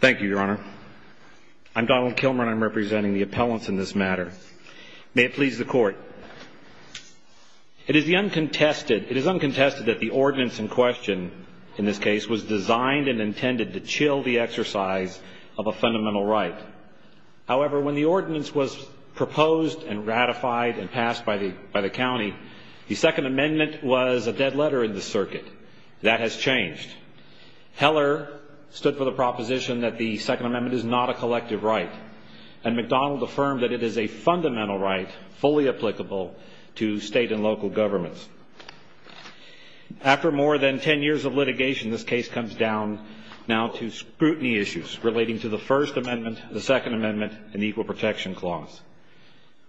thank you your honor I'm Donald Kilmer and I'm representing the appellants in this matter may it please the court it is the uncontested it is uncontested that the ordinance in question in this case was designed and intended to chill the exercise of a fundamental right however when the ordinance was proposed and ratified and passed by the by the county the Second Amendment was a dead letter in the circuit that has changed Heller stood for the proposition that the Second Amendment is not a collective right and McDonald affirmed that it is a fundamental right fully applicable to state and local governments after more than 10 years of litigation this case comes down now to scrutiny issues relating to the First Amendment the Second Amendment and the Equal Protection Clause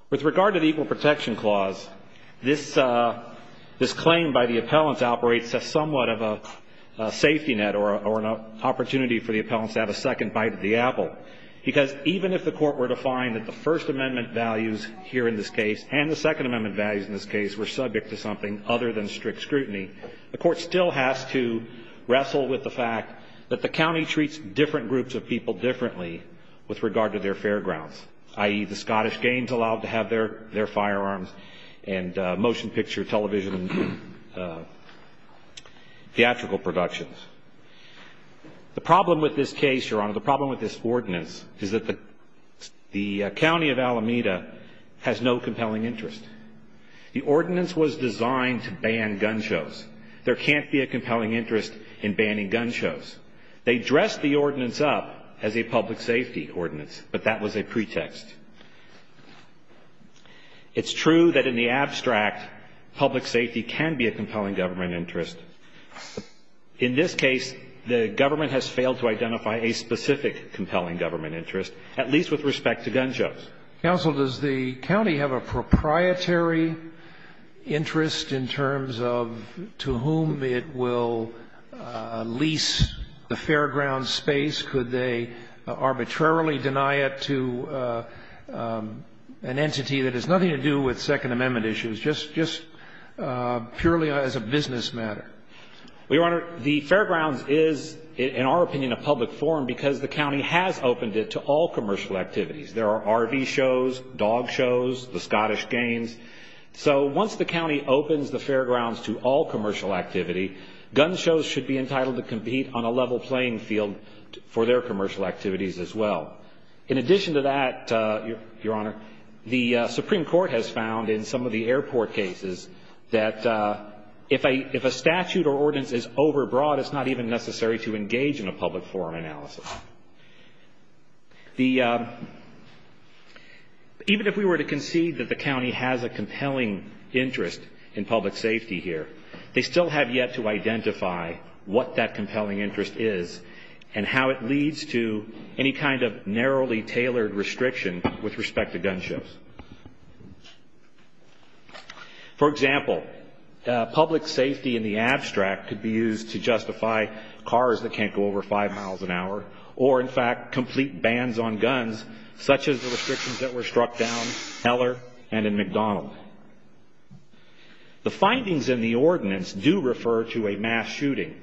with regard to the Equal Protection Clause this is claimed by the appellants operates as somewhat of a safety net or an opportunity for the appellants to have a second bite of the apple because even if the court were to find that the First Amendment values here in this case and the Second Amendment values in this case were subject to something other than strict scrutiny the court still has to wrestle with the fact that the county treats different groups of people differently with regard to their fairgrounds i.e. the Scottish games allowed to have their their firearms and motion picture television theatrical productions the problem with this case your honor the problem with this ordinance is that the the county of Alameda has no compelling interest the ordinance was designed to ban gun shows there can't be a compelling interest in banning gun shows they dress the ordinance up as a public safety ordinance but that was a pretext it's true that in the abstract public safety can be a compelling government interest in this case the government has failed to identify a specific compelling government interest at least with respect to gun shows counsel does the county have a proprietary interest in gun shows the county has opened it to all commercial activities there are RV shows dog shows the Scottish games so once the county opens the fairgrounds to all commercial activity gun shows should be entitled to compete on a level playing field for their commercial activities as well in addition to that your honor the Supreme Court has found in some of the airport cases that if a statute or ordinance is overbroad it's not even necessary to engage in a public forum analysis even if we were to concede that the county has a compelling interest in public safety here they still have yet to identify what that compelling interest is and how it leads to any kind of narrowly tailored restriction with respect to gun shows for example public safety in the abstract could be used to justify cars that can't go over 5 miles an hour or in fact complete bans on guns such as the restrictions that were struck down in Heller and in McDonnell the findings in the ordinance do refer to a mass shooting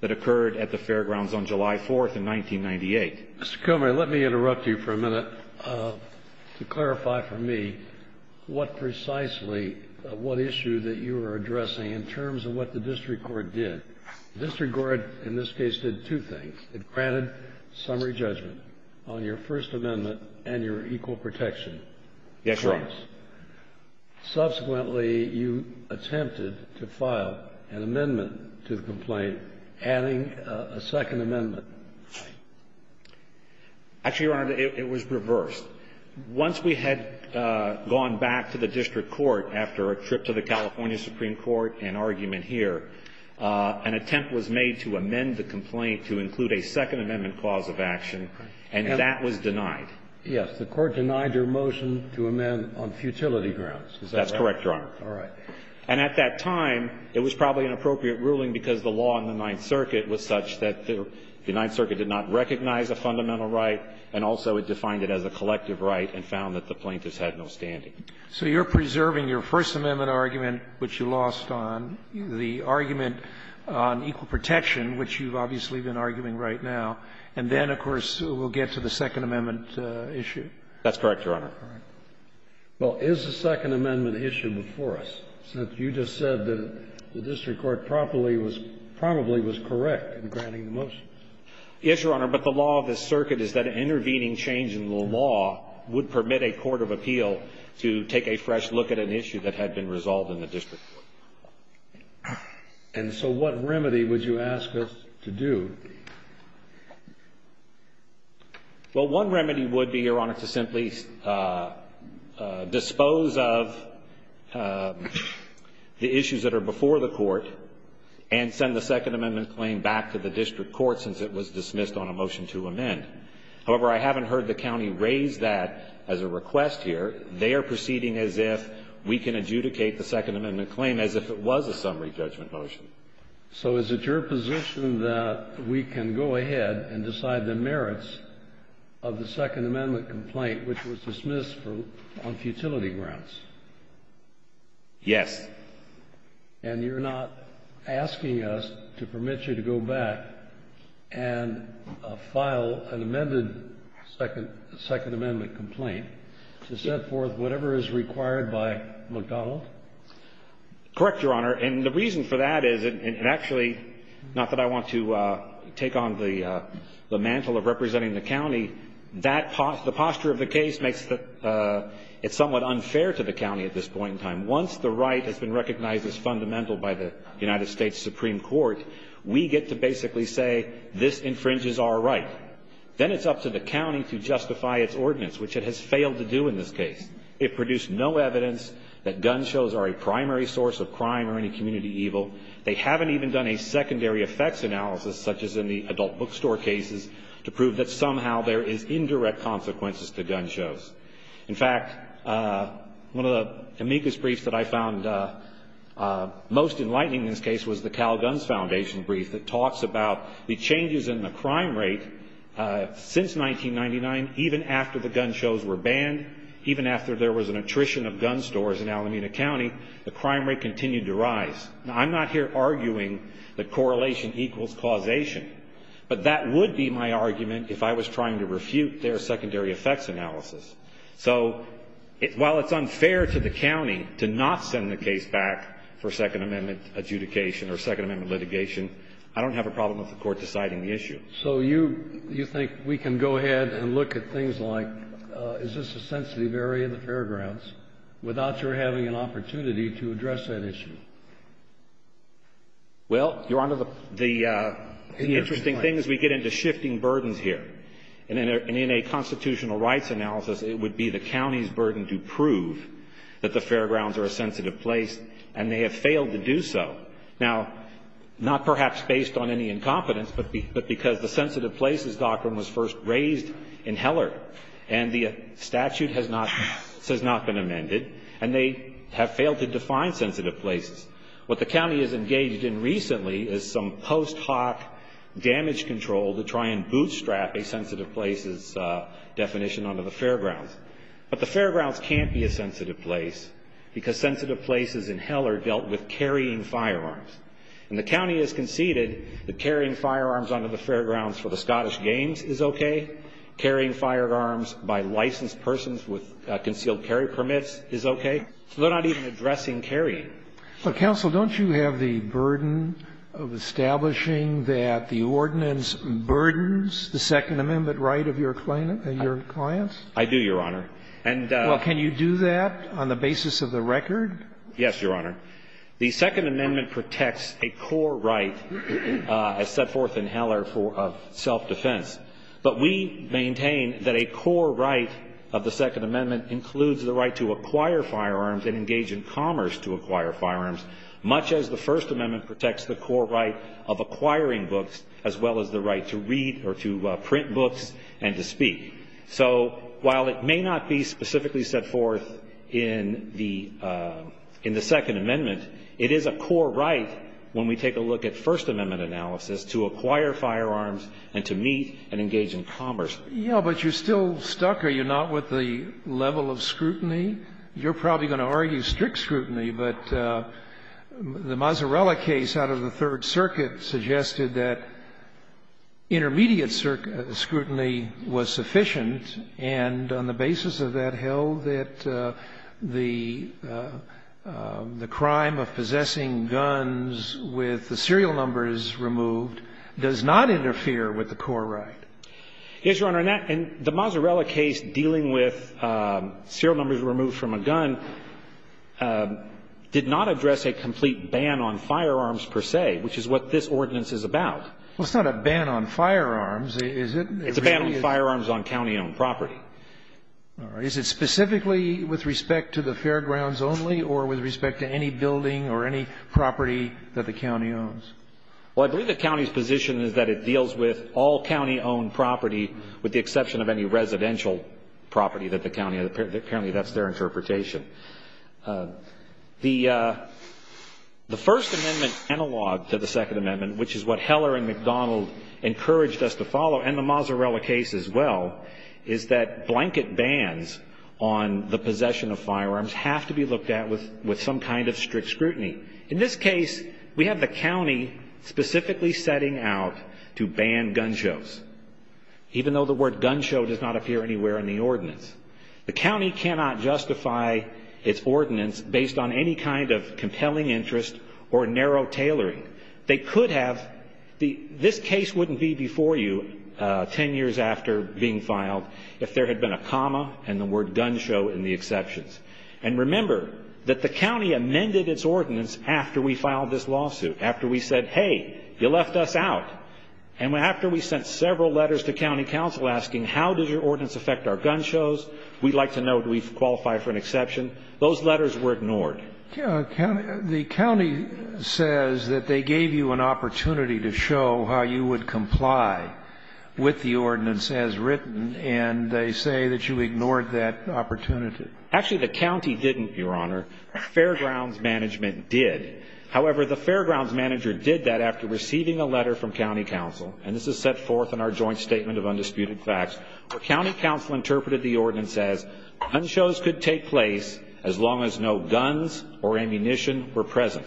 that occurred at the fairgrounds on July 4th in 1998 Mr. Kilmer let me interrupt you for a minute to clarify for me what precisely what issue that you are addressing in terms of what the district court did the district court in this case did two things it granted summary judgment on your first amendment and your equal protection clause subsequently you attempted to file an amendment to the complaint adding a second amendment actually your honor it was reversed once we had gone back to the district court after a trip to the California Supreme Court and argument here an attempt was made to amend the complaint to include a second amendment clause of action and that was denied yes the court denied your motion to amend on futility grounds is that correct your honor and at that time it was probably an appropriate ruling because the law in the 9th circuit was such that the 9th circuit did not recognize a fine of $1,000 and also it defined it as a collective right and found that the plaintiffs had no standing so you're preserving your first amendment argument which you lost on the argument on equal protection which you've obviously been arguing right now and then of course we'll get to the second amendment issue that's correct your honor well is the second amendment issue before us since you just said that the district court probably was probably was correct in granting the motion yes your honor but the law of the circuit is that intervening change in the law would permit a court of appeal to take a fresh look at an issue that had been resolved in the district court and so what remedy would you ask us to do well one remedy would be your honor to simply dispose of the issues that are before the court and send the second amendment claim back to the district court since it was dismissed on a motion to amend however I haven't heard the county raise that as a request here they are proceeding as if we can adjudicate the second amendment claim as if it was a summary judgment motion so is it your position that we can go ahead and decide the merits of the second amendment complaint which was dismissed on futility grounds yes and you're not asking us to permit you to go back and look at the second amendment claim and file an amended second amendment complaint to set forth whatever is required by mcdonald correct your honor and the reason for that is it actually not that I want to take on the mantle of representing the county that the posture of the case makes it somewhat unfair to the county at this point in time once the right has been recognized as fundamental by the united states supreme court we get to basically say this infringes our right then it's up to the county to justify its ordinance which it has failed to do in this case it produced no evidence that gun shows are a primary source of crime or any community evil they haven't even done a secondary effects analysis such as in the adult bookstore cases to prove that somehow there is indirect consequences to gun shows in fact one of the amicus briefs that I found most enlightening in this case was the cal guns foundation brief that talks about the changes in the crime rate since 1999 even after the gun shows were banned even after there was an attrition of gun stores in alameda county the crime rate continued to rise now I'm not here arguing that correlation equals causation but that would be my argument if I was trying to refute their secondary effects analysis so while it's unfair to the county to have a second amendment adjudication or second amendment litigation I don't have a problem with the court deciding the issue so you think we can go ahead and look at things like is this a sensitive area of the fairgrounds without your having an opportunity to address that issue well your honor the interesting thing is we get into shifting burdens here and in a constitutional rights analysis it would be the county's decision to have a sensitive place and they have failed to do so now not perhaps based on any incompetence but because the sensitive places doctrine was first raised in heller and the statute has not been amended and they have failed to define sensitive places what the county has engaged in recently is some post hoc damage control to try and bootstrap a sensitive places definition onto the fairgrounds but the county has conceded that carrying firearms onto the fairgrounds for the scottish games is okay carrying firearms by licensed persons with concealed carry permits is okay so they are not even addressing carrying counsel don't you have the burden of establishing that the ordinance burdens the second amendment right of your clients I do your honor well can you do that on the basis of the record yes your honor the second amendment protects a core right as set forth in heller for self defense but we maintain that a core right of the second amendment includes the right to acquire firearms and engage in commerce to acquire firearms much as the first amendment protects the core right of acquiring books as well as the right to read or to print books and to speak so while it may not be specifically set forth in the second amendment it is a core right when we take a look at first amendment analysis to acquire firearms and to meet and engage in commerce yeah but you're still stuck are you not with the level of scrutiny you're probably going to argue strict scrutiny but the mazzarella case out of the third circuit suggested that intermediate scrutiny was sufficient and on the basis of that hell that the crime of possessing guns with the serial numbers removed does not interfere with the core right yes your honor in the mazzarella case dealing with serial numbers removed from a gun did not address a complete ban on firearms per se which is what this ordinance is about well it's not a ban on firearms is it it's a ban on firearms on county owned property all right is it specifically with respect to the fairgrounds only or with respect to any building or any property that the county owns well i believe the county's position is that it deals with all county owned property with the exception of any residential property that the county apparently that's their interpretation the the first amendment analog to the second amendment which is what heller and mcdonald encouraged us to follow and the mazzarella case as well is that blanket bans on the possession of firearms have to be looked at with with some kind of strict scrutiny in this case we have the county specifically setting out to ban gun shows even though the word gun show does not appear anywhere in the ordinance the county cannot justify its ordinance based on any kind of compelling interest or any kind of evidence that the county has in this case and this wouldn't be before you ten years after being filed if there had been a comma and the word gun show in the exceptions and remember that the county amended its ordinance after we filed this lawsuit after we said hey you left us out and after we sent several letters to county council asking how did your ordinance affect our gun shows we'd like to know do we qualify for an exception those letters were ignored the county says that they gave you an opportunity to show how you would comply with the ordinance as written and they say that you ignored that opportunity actually the county didn't your honor fairgrounds management did however the fairgrounds manager did that after receiving a letter from county council and this is set forth in our joint statement of undisputed facts where county council interpreted the ordinance as gun shows could take place as long as no guns or ammunition were present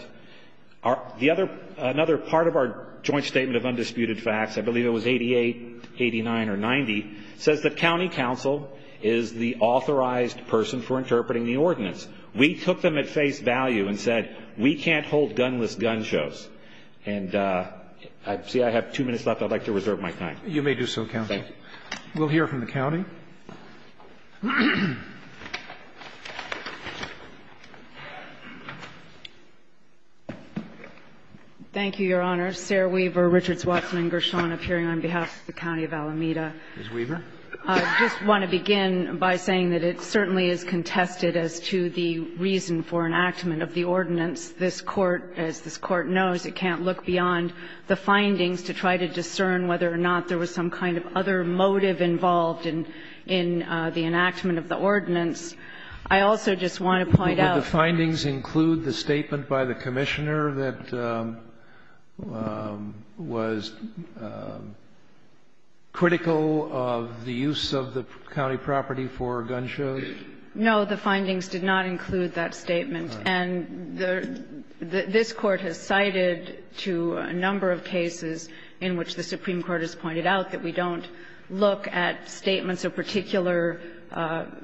the other another part of our joint statement of undisputed facts is that the fairgrounds manager did not ignore the facts I believe it was 88 89 or 90 says that county council is the authorized person for interpreting the ordinance we took them at face value and said we can't hold gunless gun shows and I see I have two minutes left I'd like to reserve my time you may do so county we'll hear from the county thank you your honor Sarah Weaver Richards Watson and Gershon on behalf of the county of Alameda I just want to begin by saying that it certainly is contested as to the reason for enactment of the ordinance this court as this court knows it can't look beyond the findings to try to discern whether or not there was some kind of other motive involved in in the enactment of the ordinance I also just want to point out the findings include the statement by the commissioner that was critical of the use of the county property for gun shows no the findings did not include that statement and the this court has cited to a number of cases in which the Supreme Court has pointed out that we don't look at statements of particular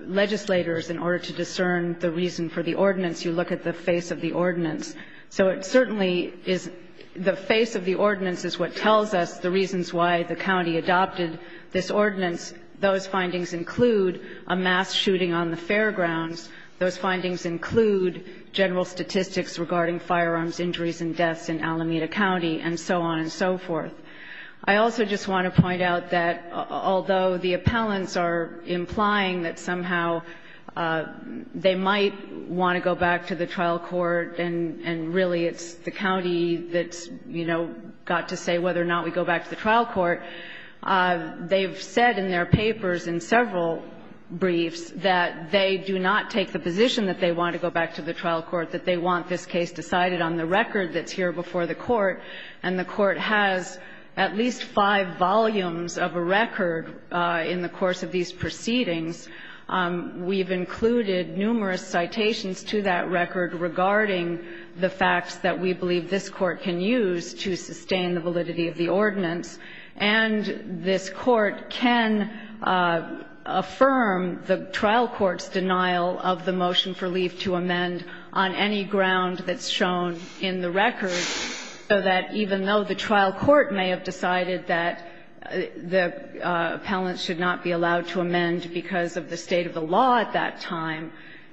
legislators in order to discern the reason for the ordinance you look at the face of the ordinance so it certainly is the face of the ordinance is what tells us the reasons why the county adopted this ordinance those findings include a mass shooting on the fairgrounds those findings include general statistics regarding firearms injuries and deaths in Alameda County and so on and so forth I also just want to point out that although the county might want to go back to the trial court and and really it's the county that's you know got to say whether or not we go back to the trial court they've said in their papers in several briefs that they do not take the position that they want to go back to the trial court that they want this case decided on the record that's here before the court and the court has at least five volumes of a record in the course of these proceedings we've included numerous citations to that record regarding the facts that we believe this court can use to sustain the validity of the ordinance and this court can affirm the trial court's denial of the motion for leave to amend on any ground that's shown in the record so that even though the trial court may have decided that the appellant should not be allowed to amend because of the state of the law at that time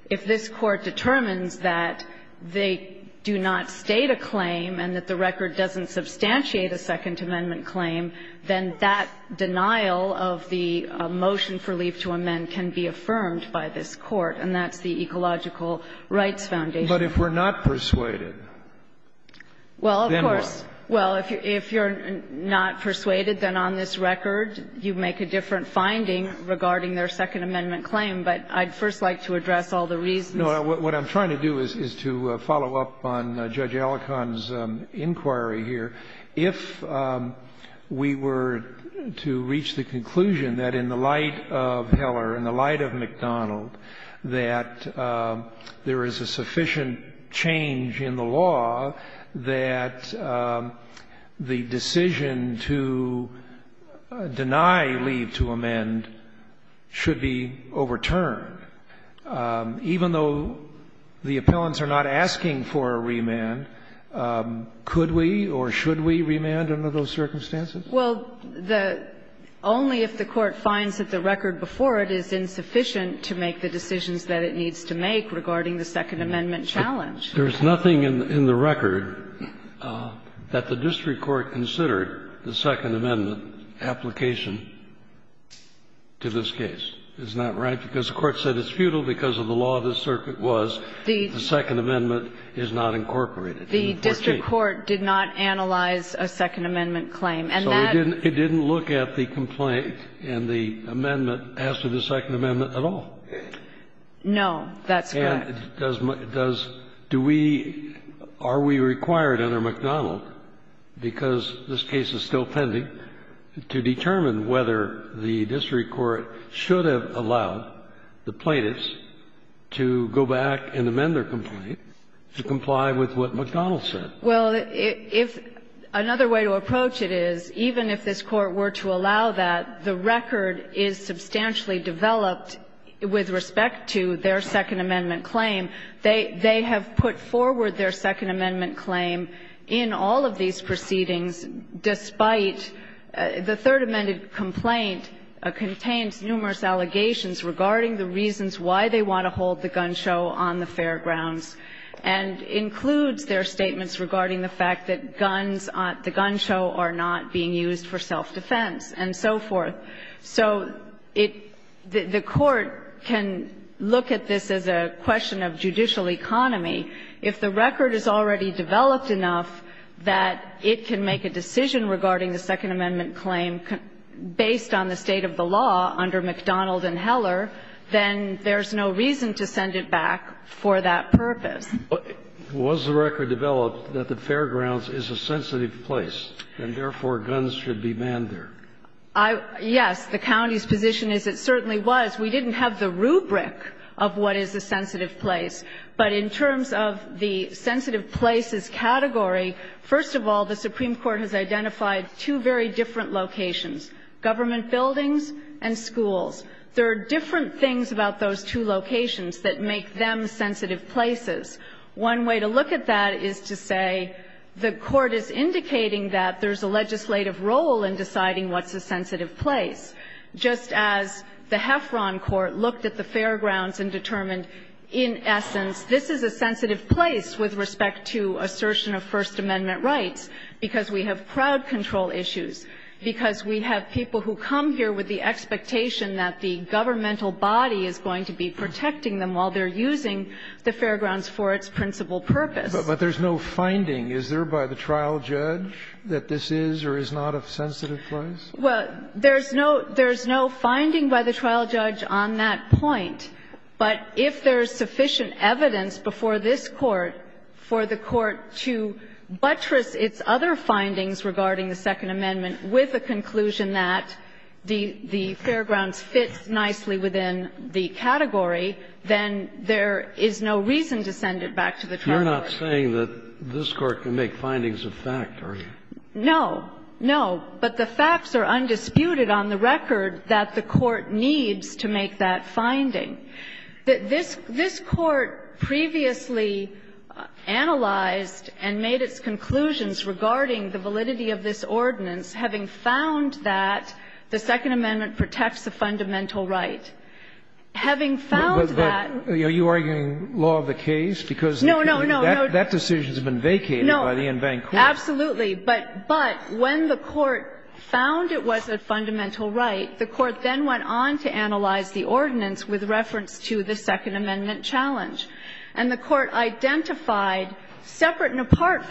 if this court determines that they do not state a claim and that the record doesn't substantiate a second amendment claim then that denial of the motion for leave to amend can be affirmed by this court and that's the ecological rights foundation. But if we're not persuaded, then what? Well, of course. Well, if you're not persuaded, then on this record you make a different finding regarding their second amendment claim, but I'd first like to address all the reasons. No, what I'm trying to do is to follow up on Judge Alicon's inquiry here. If we were to reach the conclusion that in the light of Heller, in the light of McDonald, that there is a sufficient change in the law that the decision to deny leave to amend should be overturned, even though the appellants are not asking for a remand, could we or should we remand under those circumstances? Well, the only if the court finds that the record before it is insufficient to make the decisions that it needs to make regarding the second amendment challenge. There's nothing in the record that the district court considered the second amendment application to this case. Isn't that right? Because the court said it's futile because of the law of the circuit was the second amendment is not incorporated. The district court did not analyze a second amendment claim. So it didn't look at the complaint and the amendment as to the second amendment at all? No, that's correct. And does do we, are we required under McDonald, because this case is still pending, to determine whether the district court should have allowed the plaintiffs to go back and amend their complaint to comply with what McDonald said? Well, if another way to approach it is, even if this Court were to allow that, the record is substantially developed with respect to their second amendment claim. They have put forward their second amendment claim in all of these proceedings despite the third amended complaint contains numerous allegations regarding the reasons why they want to hold the gun show on the fairgrounds and includes their statements regarding the fact that guns on the gun show are not being used for self-defense and so forth. So it, the court can look at this as a question of judicial economy. If the record is already developed enough that it can make a decision regarding the second amendment claim based on the state of the law under McDonald and Heller, then there's no reason to send it back for that purpose. Was the record developed that the fairgrounds is a sensitive place and, therefore, guns should be manned there? Yes. The county's position is it certainly was. We didn't have the rubric of what is a sensitive place. But in terms of the sensitive places category, first of all, the Supreme Court has identified two very different locations, government buildings and schools. There are different things about those two locations that make them sensitive places. One way to look at that is to say the court is indicating that there's a legislative role in deciding what's a sensitive place. Just as the Heffron Court looked at the fairgrounds and determined, in essence, this is a sensitive place with respect to assertion of First Amendment rights because we have crowd control issues, because we have people who come here with the expectation that the governmental body is going to be protecting them while they're using the fairgrounds for its principal purpose. But there's no finding. Is there by the trial judge that this is or is not a sensitive place? Well, there's no finding by the trial judge on that point. But if there's sufficient evidence before this Court for the Court to buttress its other findings regarding the Second Amendment with a conclusion that the fairgrounds fit nicely within the category, then there is no reason to send it back to the trial judge. You're not saying that this Court can make findings of fact, are you? No, no. But the facts are undisputed on the record that the Court needs to make that finding. This Court previously analyzed and made its conclusions regarding the validity of this ordinance, having found that the Second Amendment protects a fundamental right. Having found that the Court then went on to analyze the ordinance with reference to the Second Amendment challenge, and the Court identified, separate and apart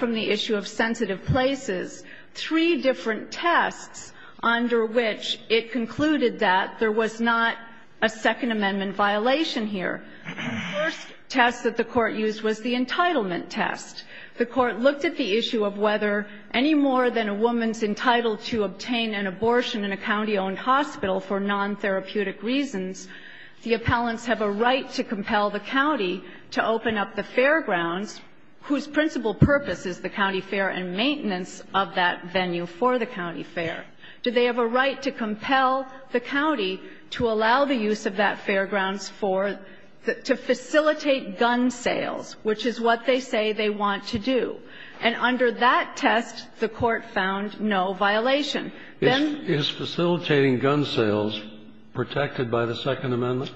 three different tests under which it concluded that there was not a Second Amendment violation here. The first test that the Court used was the entitlement test. The Court looked at the issue of whether any more than a woman's entitled to obtain an abortion in a county-owned hospital for non-therapeutic reasons, the appellants have a right to compel the county to open up the fairgrounds whose principal purpose is the county fair and maintenance of that venue for the county fair. Do they have a right to compel the county to allow the use of that fairgrounds to facilitate gun sales, which is what they say they want to do? And under that test, the Court found no violation. Is facilitating gun sales protected by the Second Amendment?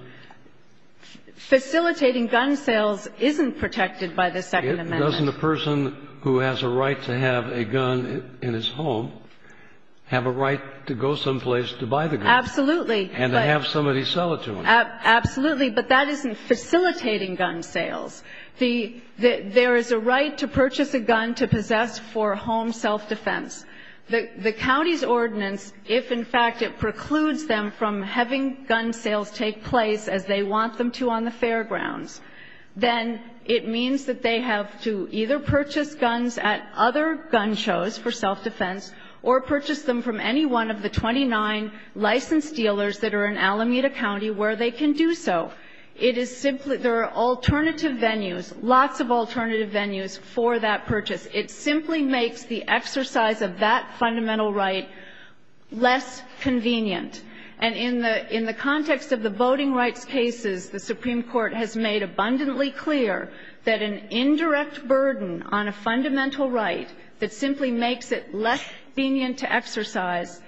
Facilitating gun sales isn't protected by the Second Amendment. Doesn't a person who has a right to have a gun in his home have a right to go someplace to buy the gun? Absolutely. And to have somebody sell it to him. Absolutely. But that isn't facilitating gun sales. There is a right to purchase a gun to possess for home self-defense. The county's ordinance, if in fact it precludes them from having gun sales take place as they want them to on the fairgrounds, then it means that they have to either purchase guns at other gun shows for self-defense or purchase them from any one of the 29 licensed dealers that are in Alameda County where they can do so. It is simply, there are alternative venues, lots of alternative venues for that purchase. It simply makes the exercise of that fundamental right less convenient. And in the context of the voting rights cases, the Supreme Court has made abundantly clear that an indirect burden on a fundamental right that simply makes it less convenient to exercise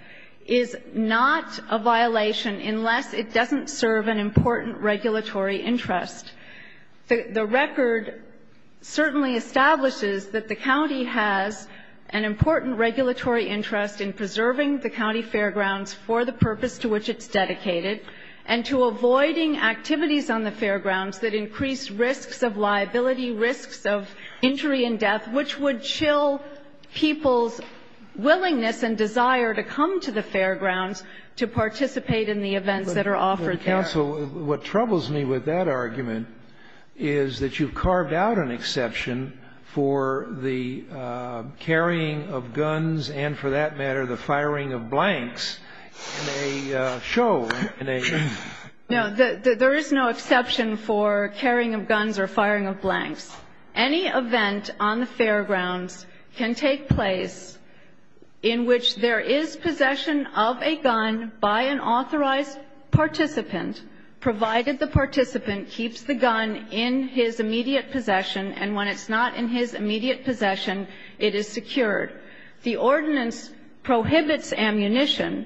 is not a violation unless it doesn't serve an important regulatory interest. The record certainly establishes that the county has an important regulatory interest in preserving the county fairgrounds for the purpose to which it's dedicated and to avoiding activities on the fairgrounds that increase risks of liability, risks of injury and death, which would chill people's willingness and desire to come to the fairgrounds to participate in the events that are offered there. So what troubles me with that argument is that you've carved out an exception for the carrying of guns and, for that matter, the firing of blanks in a show. No, there is no exception for carrying of guns or firing of blanks. Any event on the fairgrounds can take place in which there is possession of a gun by an authorized participant, provided the participant keeps the gun in his immediate possession, and when it's not in his immediate possession, it is secured. The ordinance prohibits ammunition.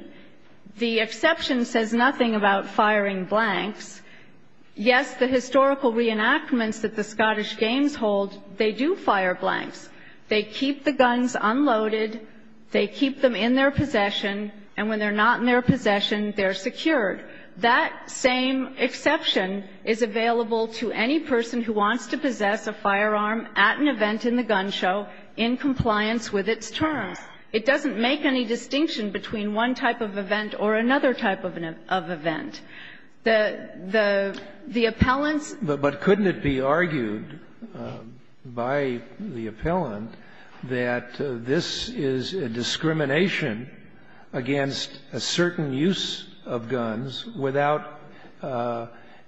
The exception says nothing about firing blanks. Yes, the historical reenactments that the Scottish Games hold, they do fire blanks. They keep the guns unloaded. They keep them in their possession. And when they're not in their possession, they're secured. That same exception is available to any person who wants to possess a firearm at an event in the gun show in compliance with its terms. It doesn't make any distinction between one type of event or another type of event. The appellants' But couldn't it be argued by the appellant that this is a discrimination against a certain use of guns without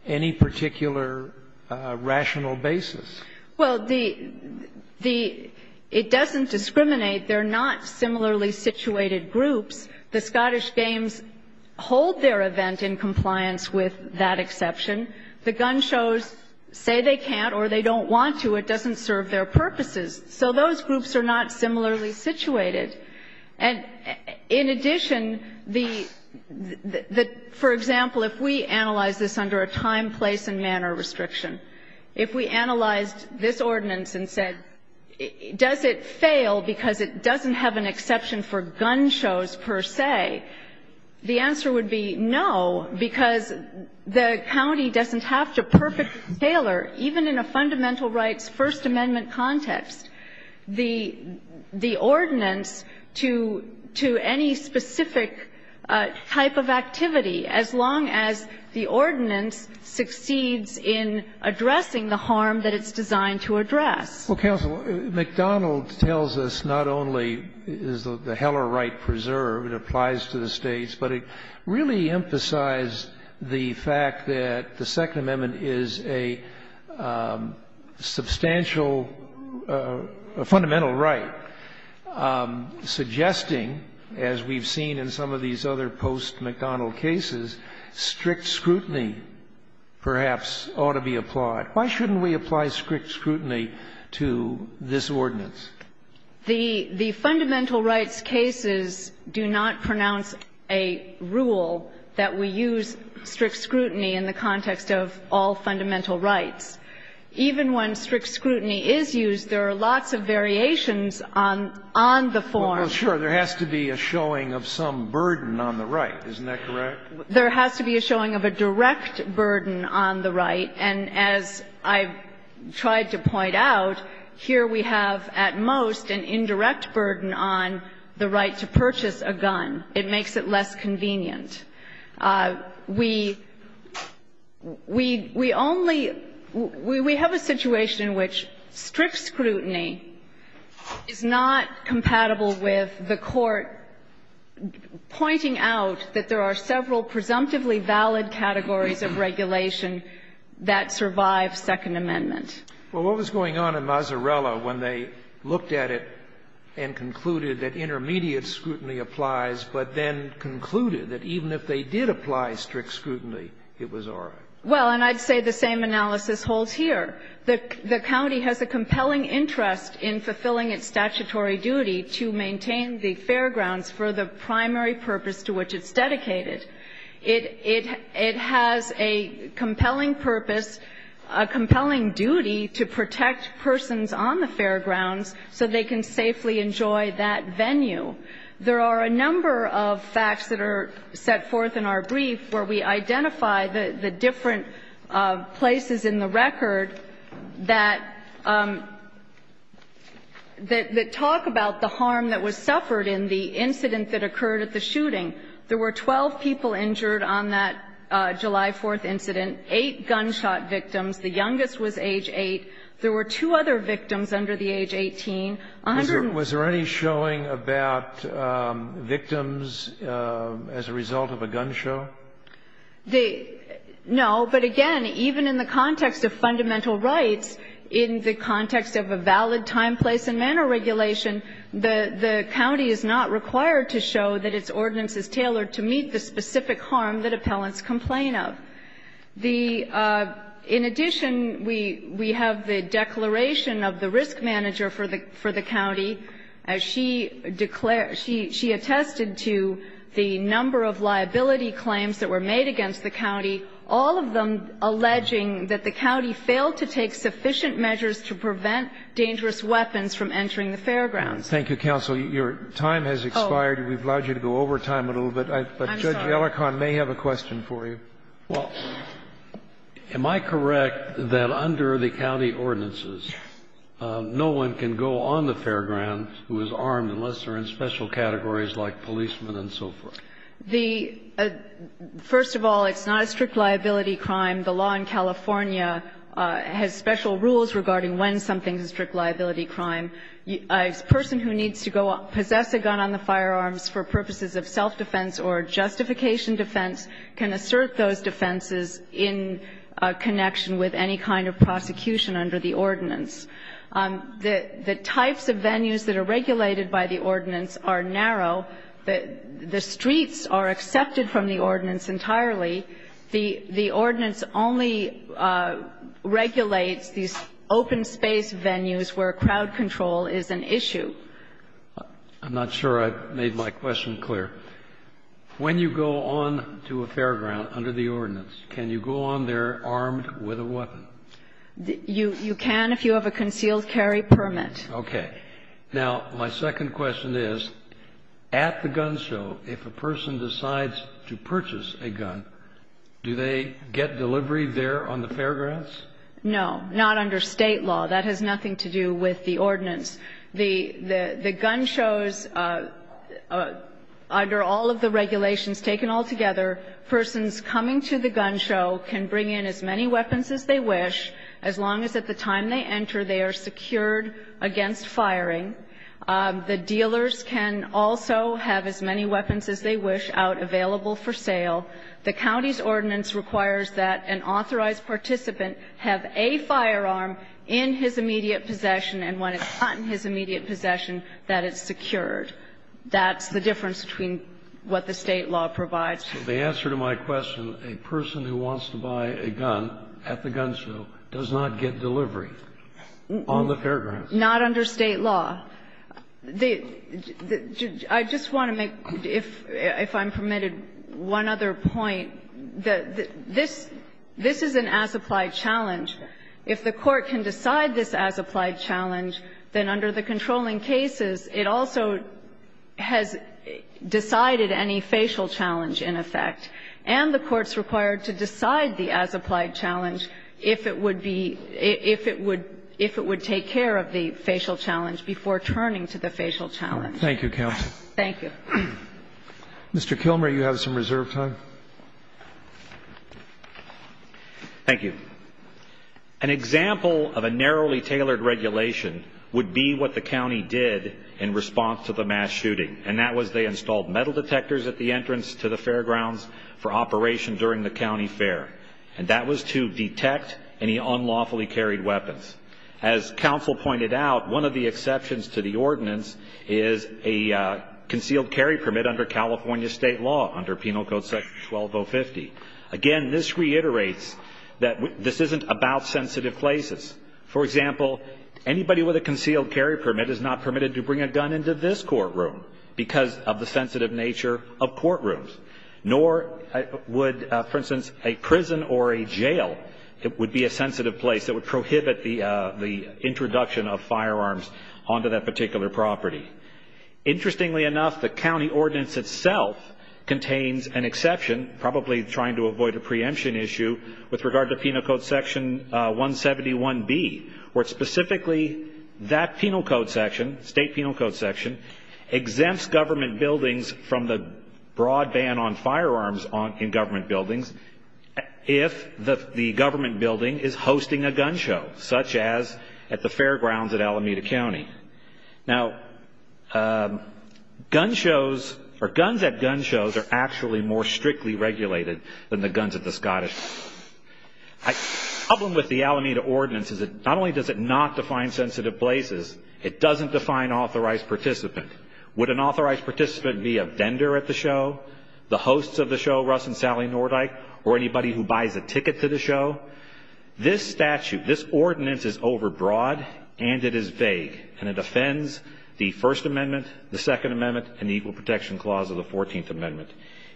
any particular rational basis? Well, the the It doesn't discriminate. They're not similarly situated groups. The Scottish Games hold their event in compliance with that exception. The gun shows say they can't or they don't want to. It doesn't serve their purposes. So those groups are not similarly situated. And in addition, the, for example, if we analyze this under a time, place and manner restriction, if we analyzed this ordinance and said, does it fail because it doesn't have an exception for gun shows per se, the answer would be no, because the county doesn't have to perfectly tailor, even in a fundamental rights First Amendment context, the the ordinance to to any specific type of activity, as long as the ordinance succeeds in addressing the harm that it's designed to address. Well, counsel, McDonald tells us not only is the Heller right preserved, it applies to the states, but it really emphasized the fact that the Second Amendment is a substantial, a fundamental right, suggesting, as we've seen in some of these other post-McDonald cases, strict scrutiny perhaps ought to be applied. Why shouldn't we apply strict scrutiny to this ordinance? The fundamental rights cases do not pronounce a rule that we use strict scrutiny in the context of all fundamental rights. Even when strict scrutiny is used, there are lots of variations on the form. Well, sure. There has to be a showing of some burden on the right. Isn't that correct? There has to be a showing of a direct burden on the right. And as I've tried to point out, here we have, at most, an indirect burden on the right to purchase a gun. It makes it less convenient. We only we have a situation in which strict scrutiny is not compatible with the court pointing out that there are several presumptively valid categories of regulation that survive Second Amendment. Well, what was going on in Mazzarella when they looked at it and concluded that intermediate scrutiny applies, but then concluded that even if they did apply strict scrutiny, it was all right? Well, and I'd say the same analysis holds here. The county has a compelling interest in fulfilling its statutory duty to maintain the fairgrounds for the primary purpose to which it's dedicated. It has a compelling purpose, a compelling duty to protect persons on the fairgrounds so they can safely enjoy that venue. There are a number of facts that are set forth in our brief where we identify the different places in the record that talk about the harm that was suffered in the incident that occurred at the shooting. There were 12 people injured on that July 4th incident. Eight gunshot victims. The youngest was age 8. There were two other victims under the age 18. A hundred and four. Was there any showing about victims as a result of a gun show? The no, but again, even in the context of fundamental rights, in the context of a valid time, place and manner regulation, the county is not required to show that its ordinance is tailored to meet the specific harm that appellants complain of. The ñ in addition, we have the declaration of the risk manager for the county. She declared ñ she attested to the number of liability claims that were made against the county, all of them alleging that the county failed to take sufficient measures to prevent dangerous weapons from entering the fairgrounds. Thank you, counsel. Your time has expired. Oh. We've allowed you to go over time a little bit. I'm sorry. But Judge Gellerkorn may have a question for you. Well, am I correct that under the county ordinances, no one can go on the fairgrounds who is armed unless they're in special categories like policemen and so forth? The ñ first of all, it's not a strict liability crime. The law in California has special rules regarding when something is a strict liability crime. A person who needs to go ñ possess a gun on the firearms for purposes of self-defense or justification defense can assert those defenses in connection with any kind of prosecution under the ordinance. The types of venues that are regulated by the ordinance are narrow. The streets are accepted from the ordinance entirely. The ordinance only regulates these open space venues where crowd control is an issue. I'm not sure I made my question clear. When you go on to a fairground under the ordinance, can you go on there armed with a weapon? You can if you have a concealed carry permit. Okay. Now, my second question is, at the gun show, if a person decides to purchase a gun, do they get delivery there on the fairgrounds? No. Not under State law. That has nothing to do with the ordinance. The gun shows, under all of the regulations taken altogether, persons coming to the gun show can bring in as many weapons as they wish as long as at the time they enter they are secured against firing. The dealers can also have as many weapons as they wish out available for sale. The county's ordinance requires that an authorized participant have a firearm in his immediate possession, and when it's not in his immediate possession that it's secured. That's the difference between what the State law provides. So the answer to my question, a person who wants to buy a gun at the gun show does not get delivery on the fairgrounds? Not under State law. I just want to make, if I'm permitted, one other point. This is an as-applied challenge. If the Court can decide this as-applied challenge, then under the controlling cases, it also has decided any facial challenge in effect. And the Court's required to decide the as-applied challenge if it would be, if it would take care of the facial challenge before turning to the facial challenge. Thank you, Counsel. Thank you. Mr. Kilmer, you have some reserve time. Thank you. An example of a narrowly tailored regulation would be what the county did in response to the mass shooting, and that was they installed metal detectors at the entrance to the fairgrounds for operation during the county fair. And that was to detect any unlawfully carried weapons. As Counsel pointed out, one of the exceptions to the ordinance is a concealed carry permit under California State law, under Penal Code Section 12050. Again, this reiterates that this isn't about sensitive places. For example, anybody with a concealed carry permit is not permitted to bring a gun into this courtroom because of the sensitive nature of courtrooms. Nor would, for instance, a prison or a jail, it would be a sensitive place that would prohibit the introduction of firearms onto that particular property. Interestingly enough, the county ordinance itself contains an exception, probably trying to avoid a preemption issue, with regard to Penal Code Section 171B, where specifically that penal code section, state penal code section, exempts government buildings from the broad ban on firearms in government buildings if the government building is hosting a gun show, such as at the fairgrounds at Alameda County. Now, gun shows or guns at gun shows are actually more strictly regulated than the guns at the Scottish Fair. The problem with the Alameda ordinance is that not only does it not define sensitive places, it doesn't define authorized participant. Would an authorized participant be a vendor at the show, the hosts of the show, Russell and Sally Nordyke, or anybody who buys a ticket to the show? This statute, this ordinance is overbroad and it is vague, and it offends the First Amendment, the Second Amendment, and the Equal Protection Clause of the Fourteenth Amendment.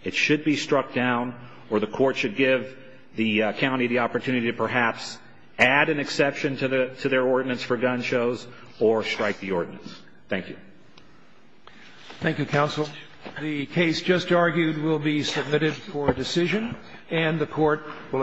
It should be struck down or the court should give the county the opportunity to perhaps add an exception to their ordinance for gun shows or strike the ordinance. Thank you. Thank you, counsel. The case just argued will be submitted for decision, and the Court will adjourn.